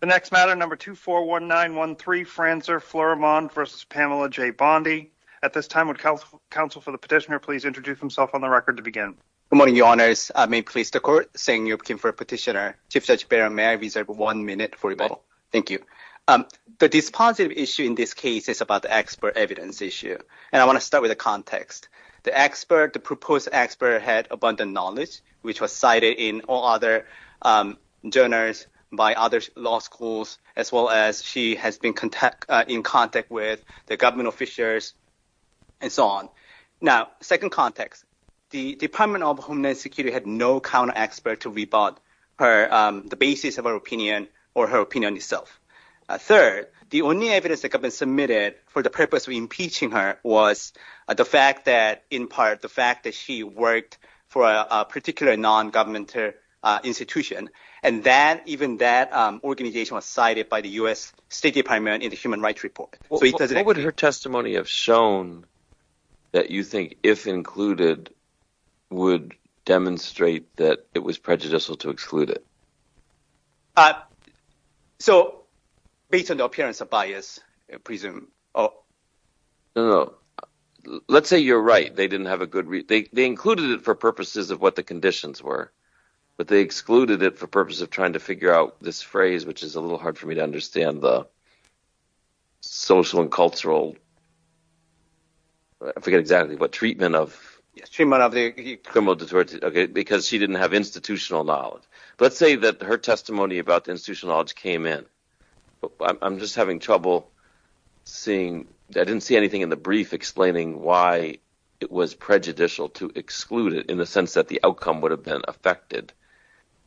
The next matter, No. 241913, Franzer-Fleurimond v. Pamela J. Bondi. At this time, would counsel for the petitioner please introduce himself on the record to begin? Good morning, Your Honors. May it please the Court? Sang-Yup Kim for petitioner. Chief Judge Behr, may I reserve one minute for rebuttal? Thank you. The dispositive issue in this case is about the expert evidence issue, and I want to start with the context. First, the proposed expert had abundant knowledge, which was cited in all other journals by other law schools, as well as she has been in contact with the government officials, and so on. Now, second context. The Department of Homeland Security had no counter-expert to rebut the basis of her opinion or her opinion itself. Third, the only evidence that could have been submitted for the purpose of impeaching her was the fact that, in part, the fact that she worked for a particular non-governmental institution, and even that organization was cited by the U.S. State Department in the Human Rights Report. What would her testimony have shown that you think, if included, would demonstrate that it was prejudicial to exclude it? So based on the appearance of bias, I presume. No, no. Let's say you're right. They didn't have a good reason. They included it for purposes of what the conditions were, but they excluded it for purposes of trying to figure out this phrase, which is a little hard for me to understand, the social and cultural, I forget exactly what, treatment of criminal deterrence, because she didn't have institutional knowledge. Let's say that her testimony about the institutional knowledge came in. I'm just having trouble seeing, I didn't see anything in the brief explaining why it was prejudicial to exclude it in the sense that the outcome would have been affected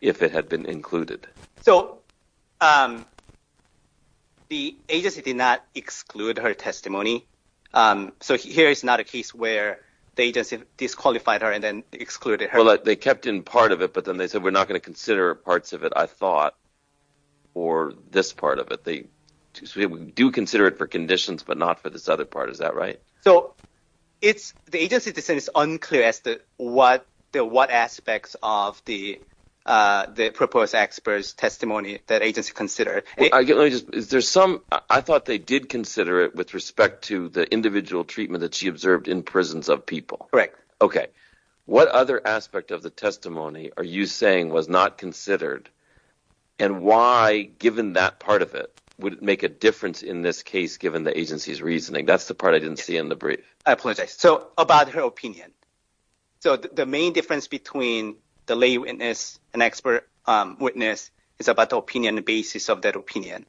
if it had been included. So the agency did not exclude her testimony, so here is not a case where the agency disqualified her and then excluded her. They kept in part of it, but then they said, we're not going to consider parts of it, I think. So we do consider it for conditions, but not for this other part. Is that right? So the agency's decision is unclear as to what aspects of the proposed expert's testimony that agency considered. I thought they did consider it with respect to the individual treatment that she observed in prisons of people. What other aspect of the testimony are you saying was not considered, and why, given that part of it, would it make a difference in this case, given the agency's reasoning? That's the part I didn't see in the brief. I apologize. So about her opinion. So the main difference between the lay witness and expert witness is about the opinion, the basis of that opinion.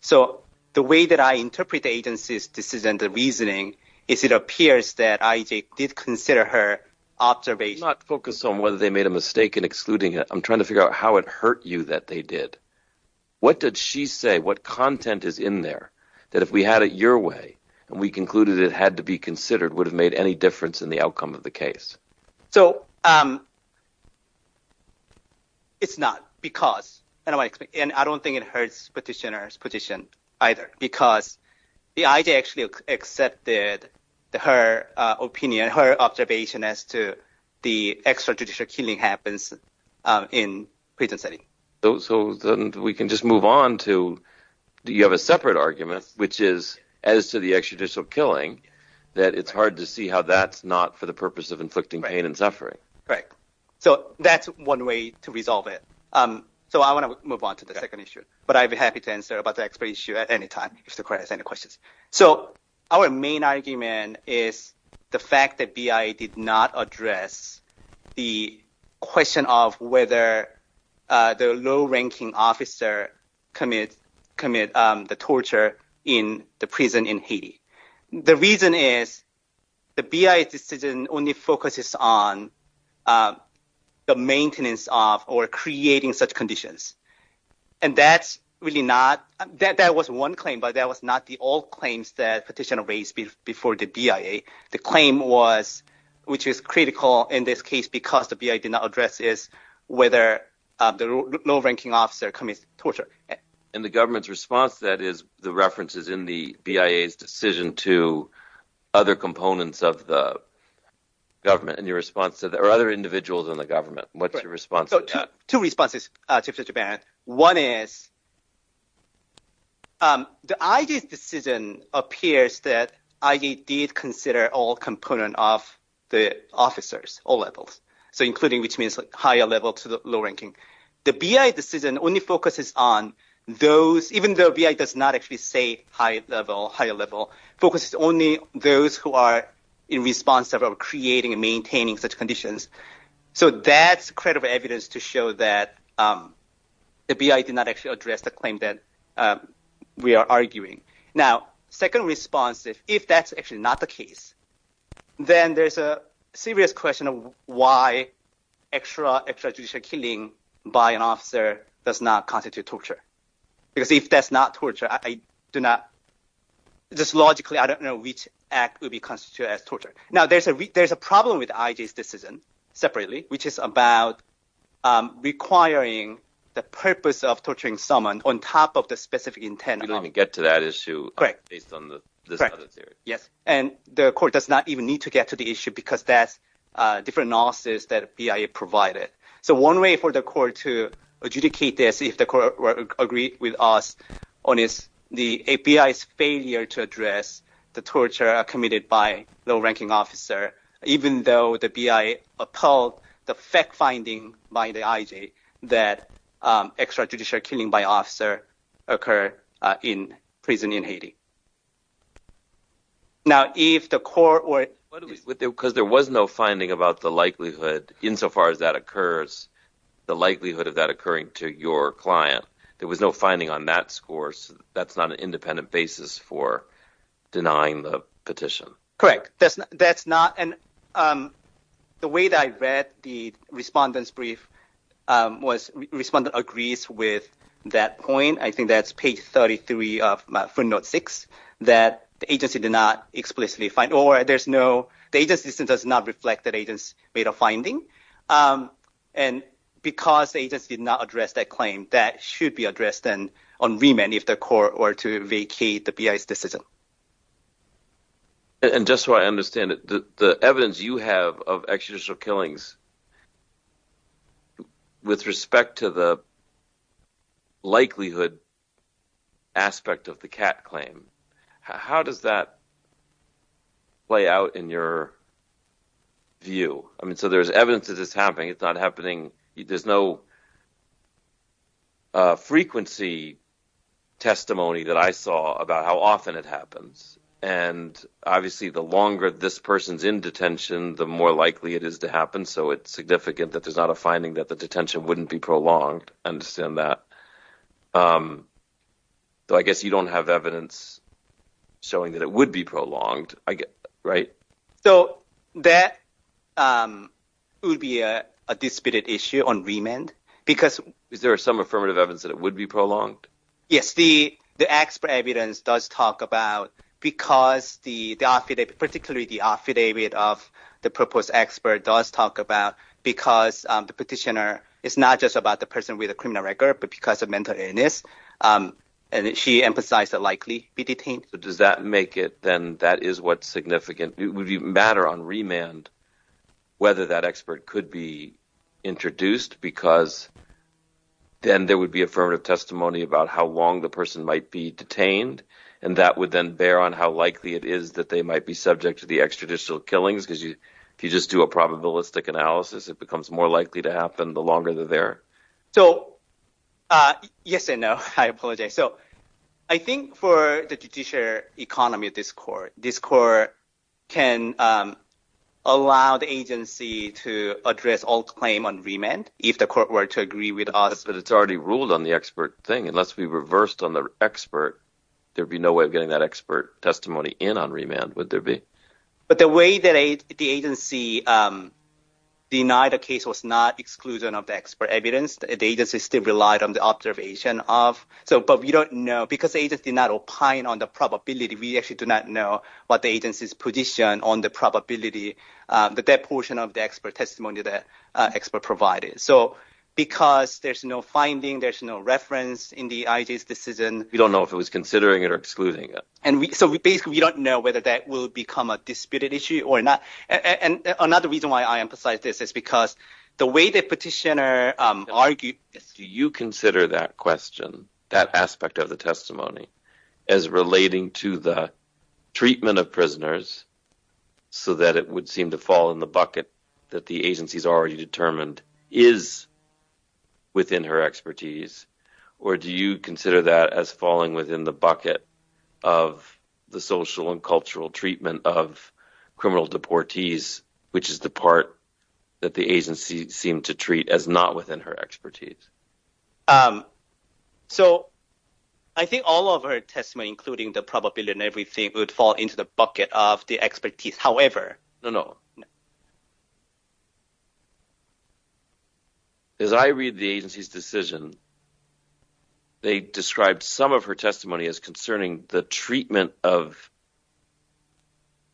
So the way that I interpret the agency's decision, the reasoning, is it appears that IJ did consider her observation. I'm not focused on whether they made a mistake in excluding her. I'm trying to figure out how it hurt you that they did. What did she say? What content is in there that if we had it your way and we concluded it had to be considered would have made any difference in the outcome of the case? So it's not because, and I don't think it hurts petitioner's position either, because the IJ actually accepted her opinion, her observation as to the extrajudicial killing happens in prison setting. So we can just move on to, you have a separate argument, which is as to the extrajudicial killing, that it's hard to see how that's not for the purpose of inflicting pain and Right. So that's one way to resolve it. So I want to move on to the second issue. But I'd be happy to answer about the expert issue at any time if there's any questions. So our main argument is the fact that BI did not address the question of whether the low-ranking officer commit the torture in the prison in Haiti. The reason is the BI's decision only focuses on the maintenance of or creating such conditions. And that's really not, that was one claim, but that was not the all claims that petitioner raised before the BIA. The claim was, which is critical in this case, because the BI did not address is whether the low-ranking officer commits torture. And the government's response to that is the references in the BIA's decision to other components of the government and your response to that, or other individuals in the government. What's your response to that? Two responses to that. One is, the IJ's decision appears that IJ did consider all component of the officers, all levels. So including which means higher level to the low-ranking. The BI's decision only focuses on those, even though BI does not actually say high level, higher level, focuses only those who are in response of creating and maintaining such conditions. So that's credible evidence to show that the BI did not actually address the claim that we are arguing. Now, second response, if that's actually not the case, then there's a serious question of why extra judicial killing by an officer does not constitute torture. Because if that's not torture, I do not, just logically, I don't know which act would be constituted as torture. Now, there's a problem with IJ's decision, separately, which is about requiring the purpose of torturing someone on top of the specific intent. We don't even get to that issue based on this other theory. Yes. And the court does not even need to get to the issue because that's different analysis that BIA provided. So one way for the court to adjudicate this, if the court agreed with us on this, the BIA's failure to address the torture committed by a low-ranking officer, even though the BIA upheld the fact-finding by the IJ that extra judicial killing by an officer occurred in prison in Haiti. Now, if the court were... Because there was no finding about the likelihood, insofar as that occurs, the likelihood of that occurring to your client, there was no finding on that score. So that's not an independent basis for denying the petition. That's not... And the way that I read the respondent's brief was respondent agrees with that point. I think that's page 33 of footnote 6, that the agency did not explicitly find... Or there's no... The agency does not reflect the agency's rate of finding. And because the agency did not address that claim, that should be addressed on remand if the court were to vacate the BIA's decision. And just so I understand it, the evidence you have of extrajudicial killings, with respect to the likelihood aspect of the CAT claim, how does that play out in your view? I mean, so there's evidence that it's happening, it's not happening... There's no frequency testimony that I saw about how often it happens. And obviously, the longer this person's in detention, the more likely it is to happen. So it's significant that there's not a finding that the detention wouldn't be prolonged. Understand that. So I guess you don't have evidence showing that it would be prolonged, right? So that would be a disputed issue on remand, because... Is there some affirmative evidence that it would be prolonged? Yes. The expert evidence does talk about... Because the... Particularly the affidavit of the proposed expert does talk about, because the petitioner is not just about the person with a criminal record, but because of mental illness. And she emphasized that likely be detained. So does that make it, then, that is what's significant? Would it matter on remand whether that expert could be introduced? Because then there would be affirmative testimony about how long the person might be detained, and that would then bear on how likely it is that they might be subject to the extrajudicial killings, because if you just do a probabilistic analysis, it becomes more likely to happen the longer they're there. So yes and no, I apologize. Okay. So I think for the judiciary economy of this court, this court can allow the agency to address all claim on remand if the court were to agree with us. But it's already ruled on the expert thing. Unless we reversed on the expert, there'd be no way of getting that expert testimony in on remand, would there be? But the way that the agency denied the case was not exclusion of the expert evidence. The agency still relied on the observation of... But we don't know, because the agency did not opine on the probability, we actually do not know what the agency's position on the probability that that portion of the expert testimony that expert provided. So because there's no finding, there's no reference in the IJ's decision... We don't know if it was considering it or excluding it. And so basically, we don't know whether that will become a disputed issue or not. And another reason why I emphasize this is because the way the petitioner argued... Do you consider that question, that aspect of the testimony, as relating to the treatment of prisoners so that it would seem to fall in the bucket that the agency's already determined is within her expertise? Or do you consider that as falling within the bucket of the social and cultural treatment of criminal deportees, which is the part that the agency seemed to treat as not within her expertise? So I think all of her testimony, including the probability and everything, would fall into the bucket of the expertise, however... No, no. As I read the agency's decision, they described some of her testimony as concerning the treatment of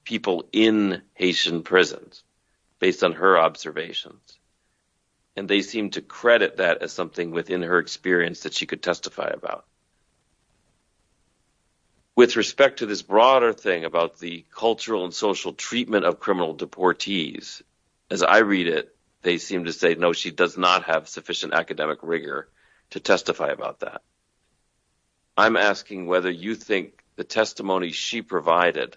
people in Haitian prisons based on her observations. And they seem to credit that as something within her experience that she could testify about. With respect to this broader thing about the cultural and social treatment of criminal deportees, as I read it, they seem to say, no, she does not have sufficient academic rigor to testify about that. I'm asking whether you think the testimony she provided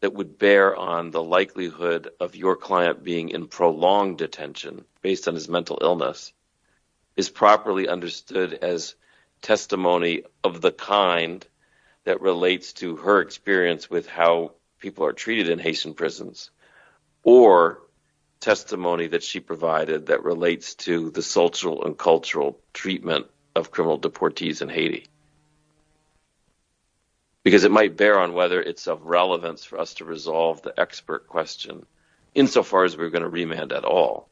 that would bear on the likelihood of your client being in prolonged detention based on his mental illness is properly understood as testimony of the kind that relates to her experience with how people are treated in Haitian prisons, or testimony that she provided that relates to the social and cultural treatment of criminal deportees in Haiti. Because it might bear on whether it's of relevance for us to resolve the expert question insofar as we're going to remand at all.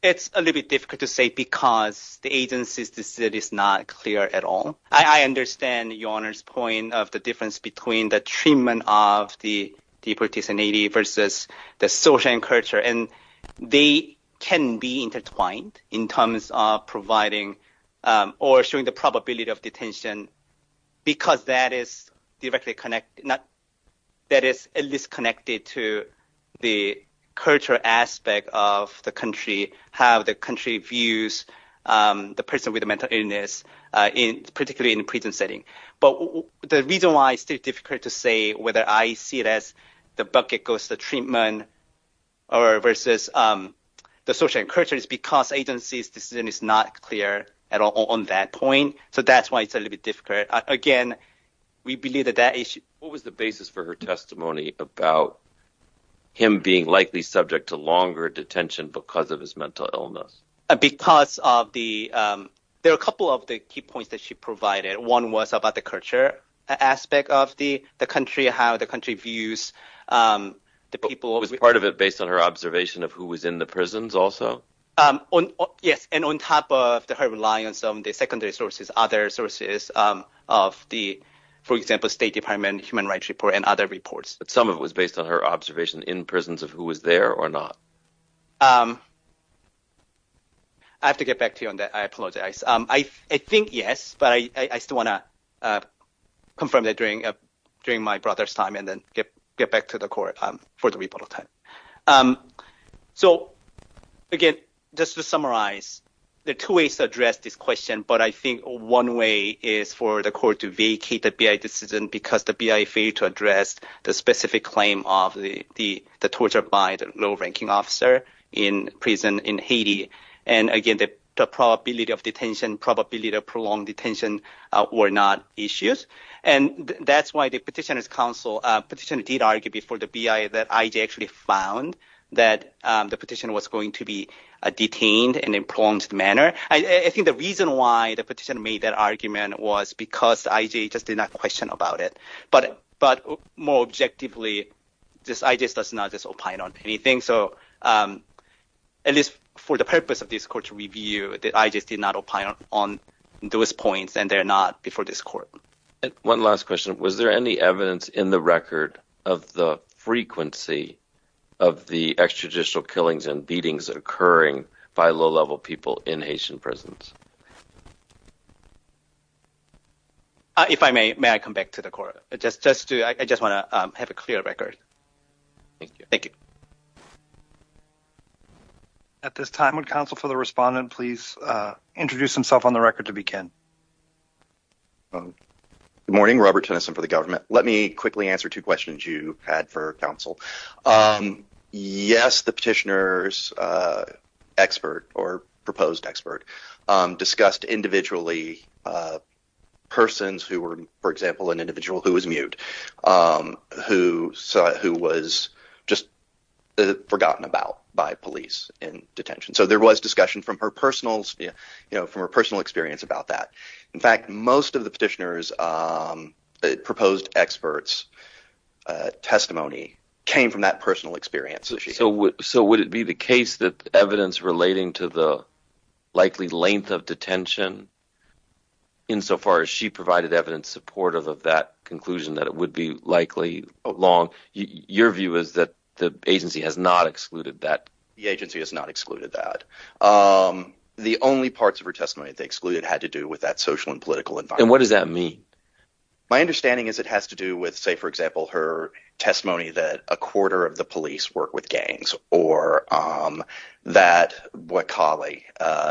It's a little bit difficult to say because the agency's decision is not clear at all. I understand Your Honor's point of the difference between the treatment of the deportees in Haiti versus the social and cultural, and they can be intertwined in terms of providing or showing the probability of detention because that is directly connected, that is at least connected to the cultural aspect of the country, how the country views the person with a mental illness, particularly in a prison setting. But the reason why it's still difficult to say whether I see it as the bucket goes to the treatment versus the social and cultural is because the agency's decision is not clear at all on that point. So that's why it's a little bit difficult. Again, we believe that that issue... What was the basis for her testimony about him being likely subject to longer detention because of his mental illness? Because of the... There are a couple of the key points that she provided. One was about the culture aspect of the country, how the country views the people... Was part of it based on her observation of who was in the prisons also? Yes, and on top of her reliance on the secondary sources, other sources of the, for example, State Department, Human Rights Report, and other reports. Some of it was based on her observation in prisons of who was there or not. I have to get back to you on that. I apologize. I think yes, but I still want to confirm that during my brother's time and then get back to the court for the rebuttal time. So again, just to summarize, there are two ways to address this question, but I think one way is for the court to vacate the BI decision because the BI failed to address the specific claim of the torture by the low-ranking officer in prison in Haiti. And again, the probability of detention, probability of prolonged detention were not issues. And that's why the Petitioner's Council petition did argue before the BI that I.J. actually found that the petition was going to be detained in a prolonged manner. I think the reason why the petition made that argument was because I.J. just did not question about it. But more objectively, I.J. does not just opine on anything. So at least for the purpose of this court's review, I.J. did not opine on those points and they're not before this court. One last question. Was there any evidence in the record of the frequency of the extrajudicial killings and beatings occurring by low-level people in Haitian prisons? If I may, may I come back to the court? I just want to have a clear record. Thank you. Thank you. Thank you. At this time, would counsel for the respondent please introduce himself on the record to begin? Good morning, Robert Tennyson for the government. Let me quickly answer two questions you had for counsel. Yes, the petitioner's expert or proposed expert discussed individually persons who were, for example, who was just forgotten about by police in detention. So there was discussion from her personal experience about that. In fact, most of the petitioner's proposed expert's testimony came from that personal experience. So would it be the case that evidence relating to the likely length of detention insofar as she provided evidence supportive of that conclusion that it would be likely long? Your view is that the agency has not excluded that? The agency has not excluded that. The only parts of her testimony that they excluded had to do with that social and political environment. And what does that mean? My understanding is it has to do with, say, for example, her testimony that a quarter of the police work with gangs or that Bwakali,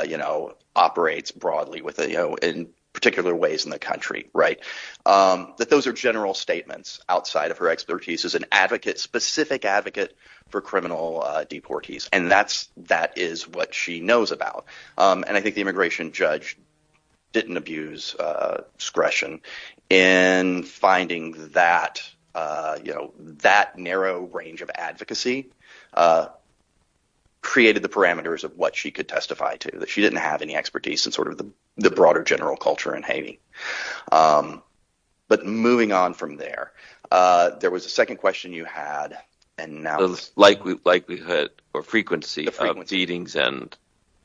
you know, operates broadly with, you know, in particular ways in the country, right? That those are general statements outside of her expertise as an advocate, specific advocate for criminal deportees. And that's that is what she knows about. And I think the immigration judge didn't abuse discretion in finding that, you know, that narrow range of advocacy created the parameters of what she could testify to, that she didn't have any expertise in sort of the broader general culture in Haiti. But moving on from there, there was a second question you had, and now... Likelihood or frequency of beatings and...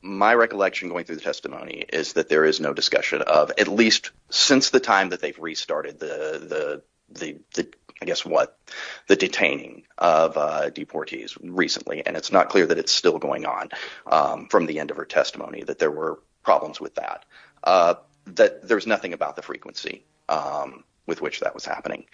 My recollection going through the testimony is that there is no discussion of, at least since the time that they've restarted the, I guess what, the detaining of deportees recently, and it's not clear that it's still going on from the end of her testimony, that there were problems with that, that there was nothing about the frequency with which that was happening.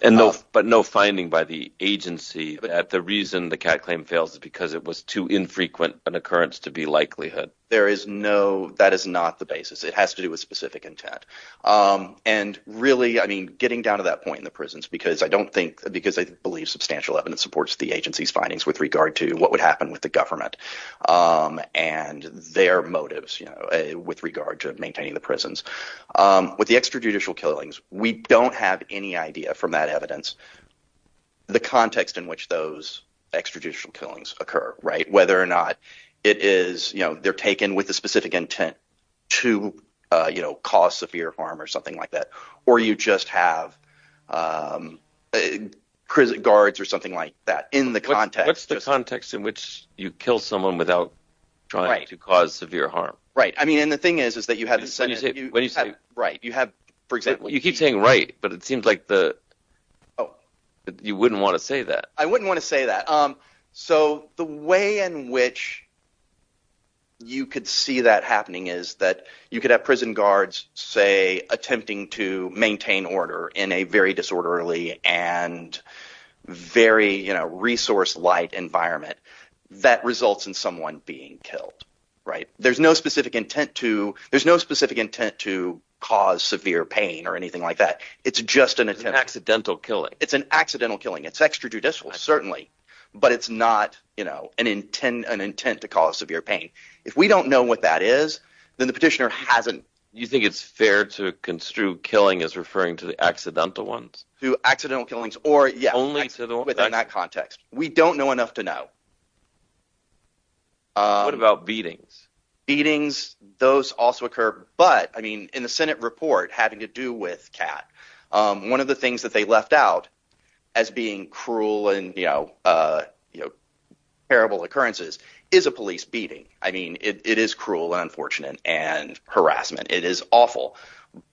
But no finding by the agency that the reason the CAT claim fails is because it was too infrequent an occurrence to be likelihood. There is no... That is not the basis. It has to do with specific intent. And really, I mean, getting down to that point in the prisons, because I don't think... What would happen with the government and their motives with regard to maintaining the prisons, with the extrajudicial killings, we don't have any idea from that evidence the context in which those extrajudicial killings occur, whether or not it is... They're taken with a specific intent to cause severe harm or something like that, or you just have prison guards or something like that in the context. What's the context in which you kill someone without trying to cause severe harm? I mean, and the thing is, is that you have... When you say... When you say... Right. You have, for example... You keep saying right, but it seems like the... Oh. You wouldn't want to say that. I wouldn't want to say that. So the way in which you could see that happening is that you could have prison guards, say, attempting to maintain order in a very disorderly and very resource-light environment that results in someone being killed, right? There's no specific intent to cause severe pain or anything like that. It's just an attempt... It's an accidental killing. It's an accidental killing. It's extrajudicial, certainly, but it's not an intent to cause severe pain. If we don't know what that is, then the petitioner hasn't... You think it's fair to construe killing as referring to the accidental ones? To accidental killings, or, yeah, within that context. We don't know enough to know. What about beatings? Beatings, those also occur, but, I mean, in the Senate report having to do with Kat, one of the things that they left out as being cruel and, you know, terrible occurrences is a police beating. I mean, it is cruel and unfortunate and harassment. It is awful,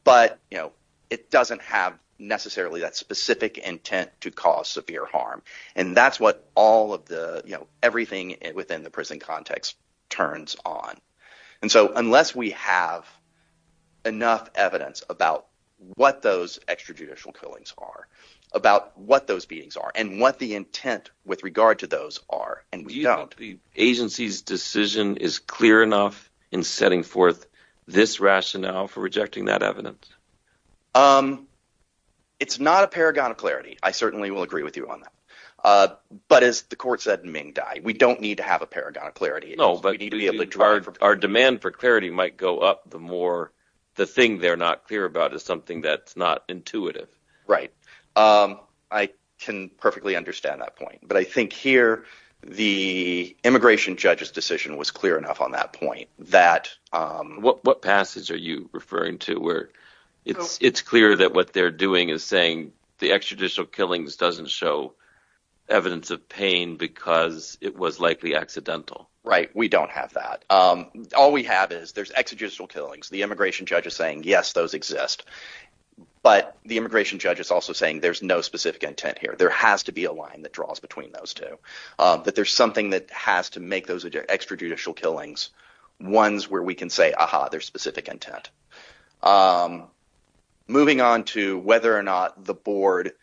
but, you know, it doesn't have necessarily that specific intent to cause severe harm, and that's what all of the, you know, everything within the prison context turns on. And so, unless we have enough evidence about what those extrajudicial killings are, about what those beatings are, and what the intent with regard to those are, and we don't... The agency's decision is clear enough in setting forth this rationale for rejecting that evidence? It's not a paragon of clarity. I certainly will agree with you on that. But as the court said in Ming Dai, we don't need to have a paragon of clarity. No, but... We need to be able to drive... Our demand for clarity might go up the more the thing they're not clear about is something that's not intuitive. Right. I can perfectly understand that point, but I think here the immigration judge's decision was clear enough on that point that... What passage are you referring to where it's clear that what they're doing is saying the extrajudicial killings doesn't show evidence of pain because it was likely accidental? Right, we don't have that. All we have is there's extrajudicial killings. The immigration judge is saying, yes, those exist. But the immigration judge is also saying there's no specific intent here. There has to be a line that draws between those two, that there's something that has to make those extrajudicial killings ones where we can say, aha, there's specific intent. Moving on to whether or not the board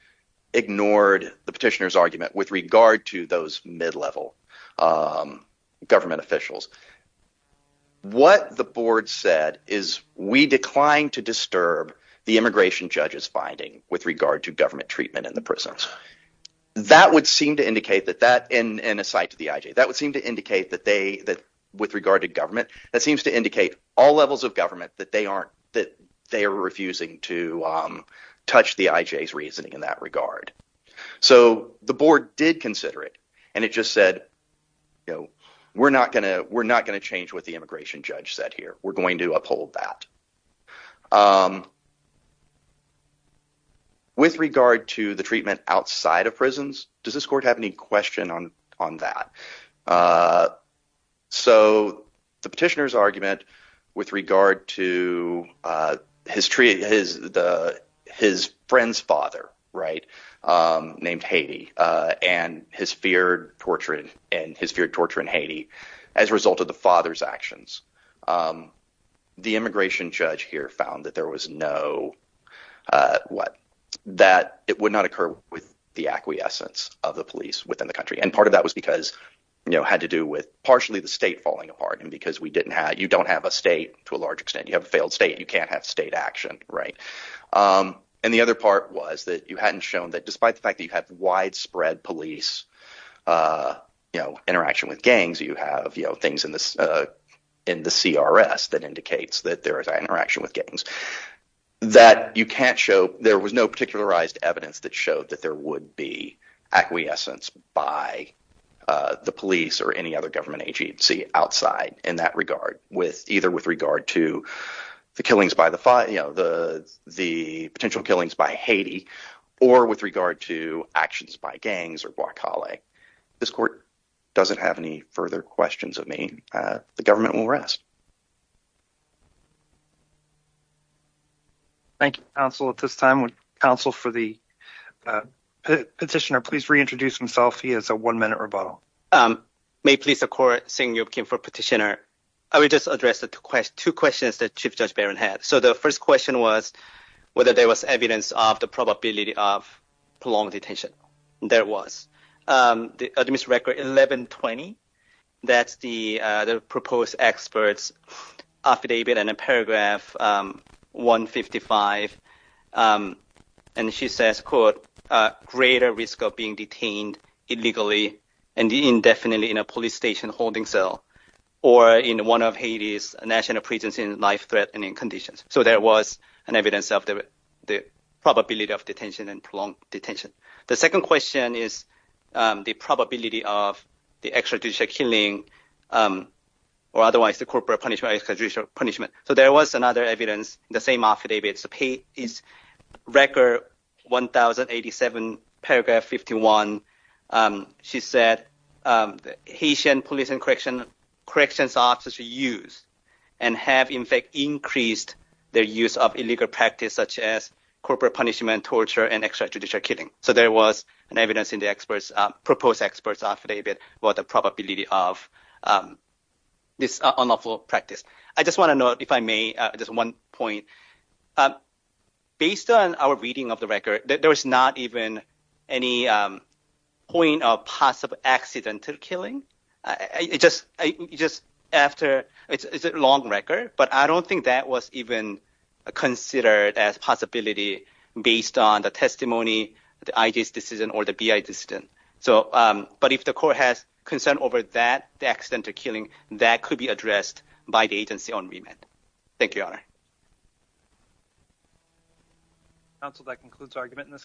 ignored the petitioner's argument with regard to those mid-level government officials. What the board said is we declined to disturb the immigration judge's finding with regard to government treatment in the prisons. That would seem to indicate that that... And aside to the IJ, that would seem to indicate that they... With regard to government, that seems to indicate all levels of government that they are refusing to touch the IJ's reasoning in that regard. So the board did consider it, and it just said, we're not going to change what the immigration judge said here. We're going to uphold that. With regard to the treatment outside of prisons, does this court have any question on that? So the petitioner's argument with regard to his friend's father, named Haiti, and his feared torture in Haiti as a result of the father's actions, the immigration judge here found that it would not occur with the acquiescence of the police within the country. And part of that was because it had to do with partially the state falling apart and because we didn't have... You don't have a state to a large extent. You have a failed state. You can't have state action, right? And the other part was that you hadn't shown that despite the fact that you have widespread police interaction with gangs, you have things in the CRS that indicates that there is interaction with gangs, that you can't show... There was no particularized evidence that showed that there would be acquiescence by the police or any other government agency outside in that regard, either with regard to the potential killings by Haiti or with regard to actions by gangs or Boikale. This court doesn't have any further questions of me. The government will rest. Thank you, counsel. At this time, would counsel for the petitioner please reintroduce himself? He has a one-minute rebuttal. May police court sing your king for petitioner. I will just address the two questions that Chief Judge Barron had. So the first question was whether there was evidence of the probability of prolonged detention. There was. The administrative record 1120, that's the proposed experts affidavit and a paragraph 155, and she says, quote, greater risk of being detained illegally and indefinitely in a police station holding cell or in one of Haiti's national prisons in life threat and in conditions. So there was an evidence of the probability of detention and prolonged detention. The second question is the probability of the extrajudicial killing or otherwise the corporate punishment, extrajudicial punishment. So there was another evidence, the same affidavit, record 1087, paragraph 51. She said Haitian police and corrections officers use and have in fact increased their use of record practice such as corporate punishment, torture and extrajudicial killing. So there was an evidence in the experts, proposed experts affidavit about the probability of this unlawful practice. I just want to note, if I may, just one point. Based on our reading of the record, there was not even any point of possible accidental killing. It's a long record, but I don't think that was even considered as a possibility based on the testimony, the IJ's decision or the BI's decision. But if the court has concern over that, the accidental killing, that could be addressed by the agency on remand. Thank you, Your Honor. Counsel, that concludes the argument in this case.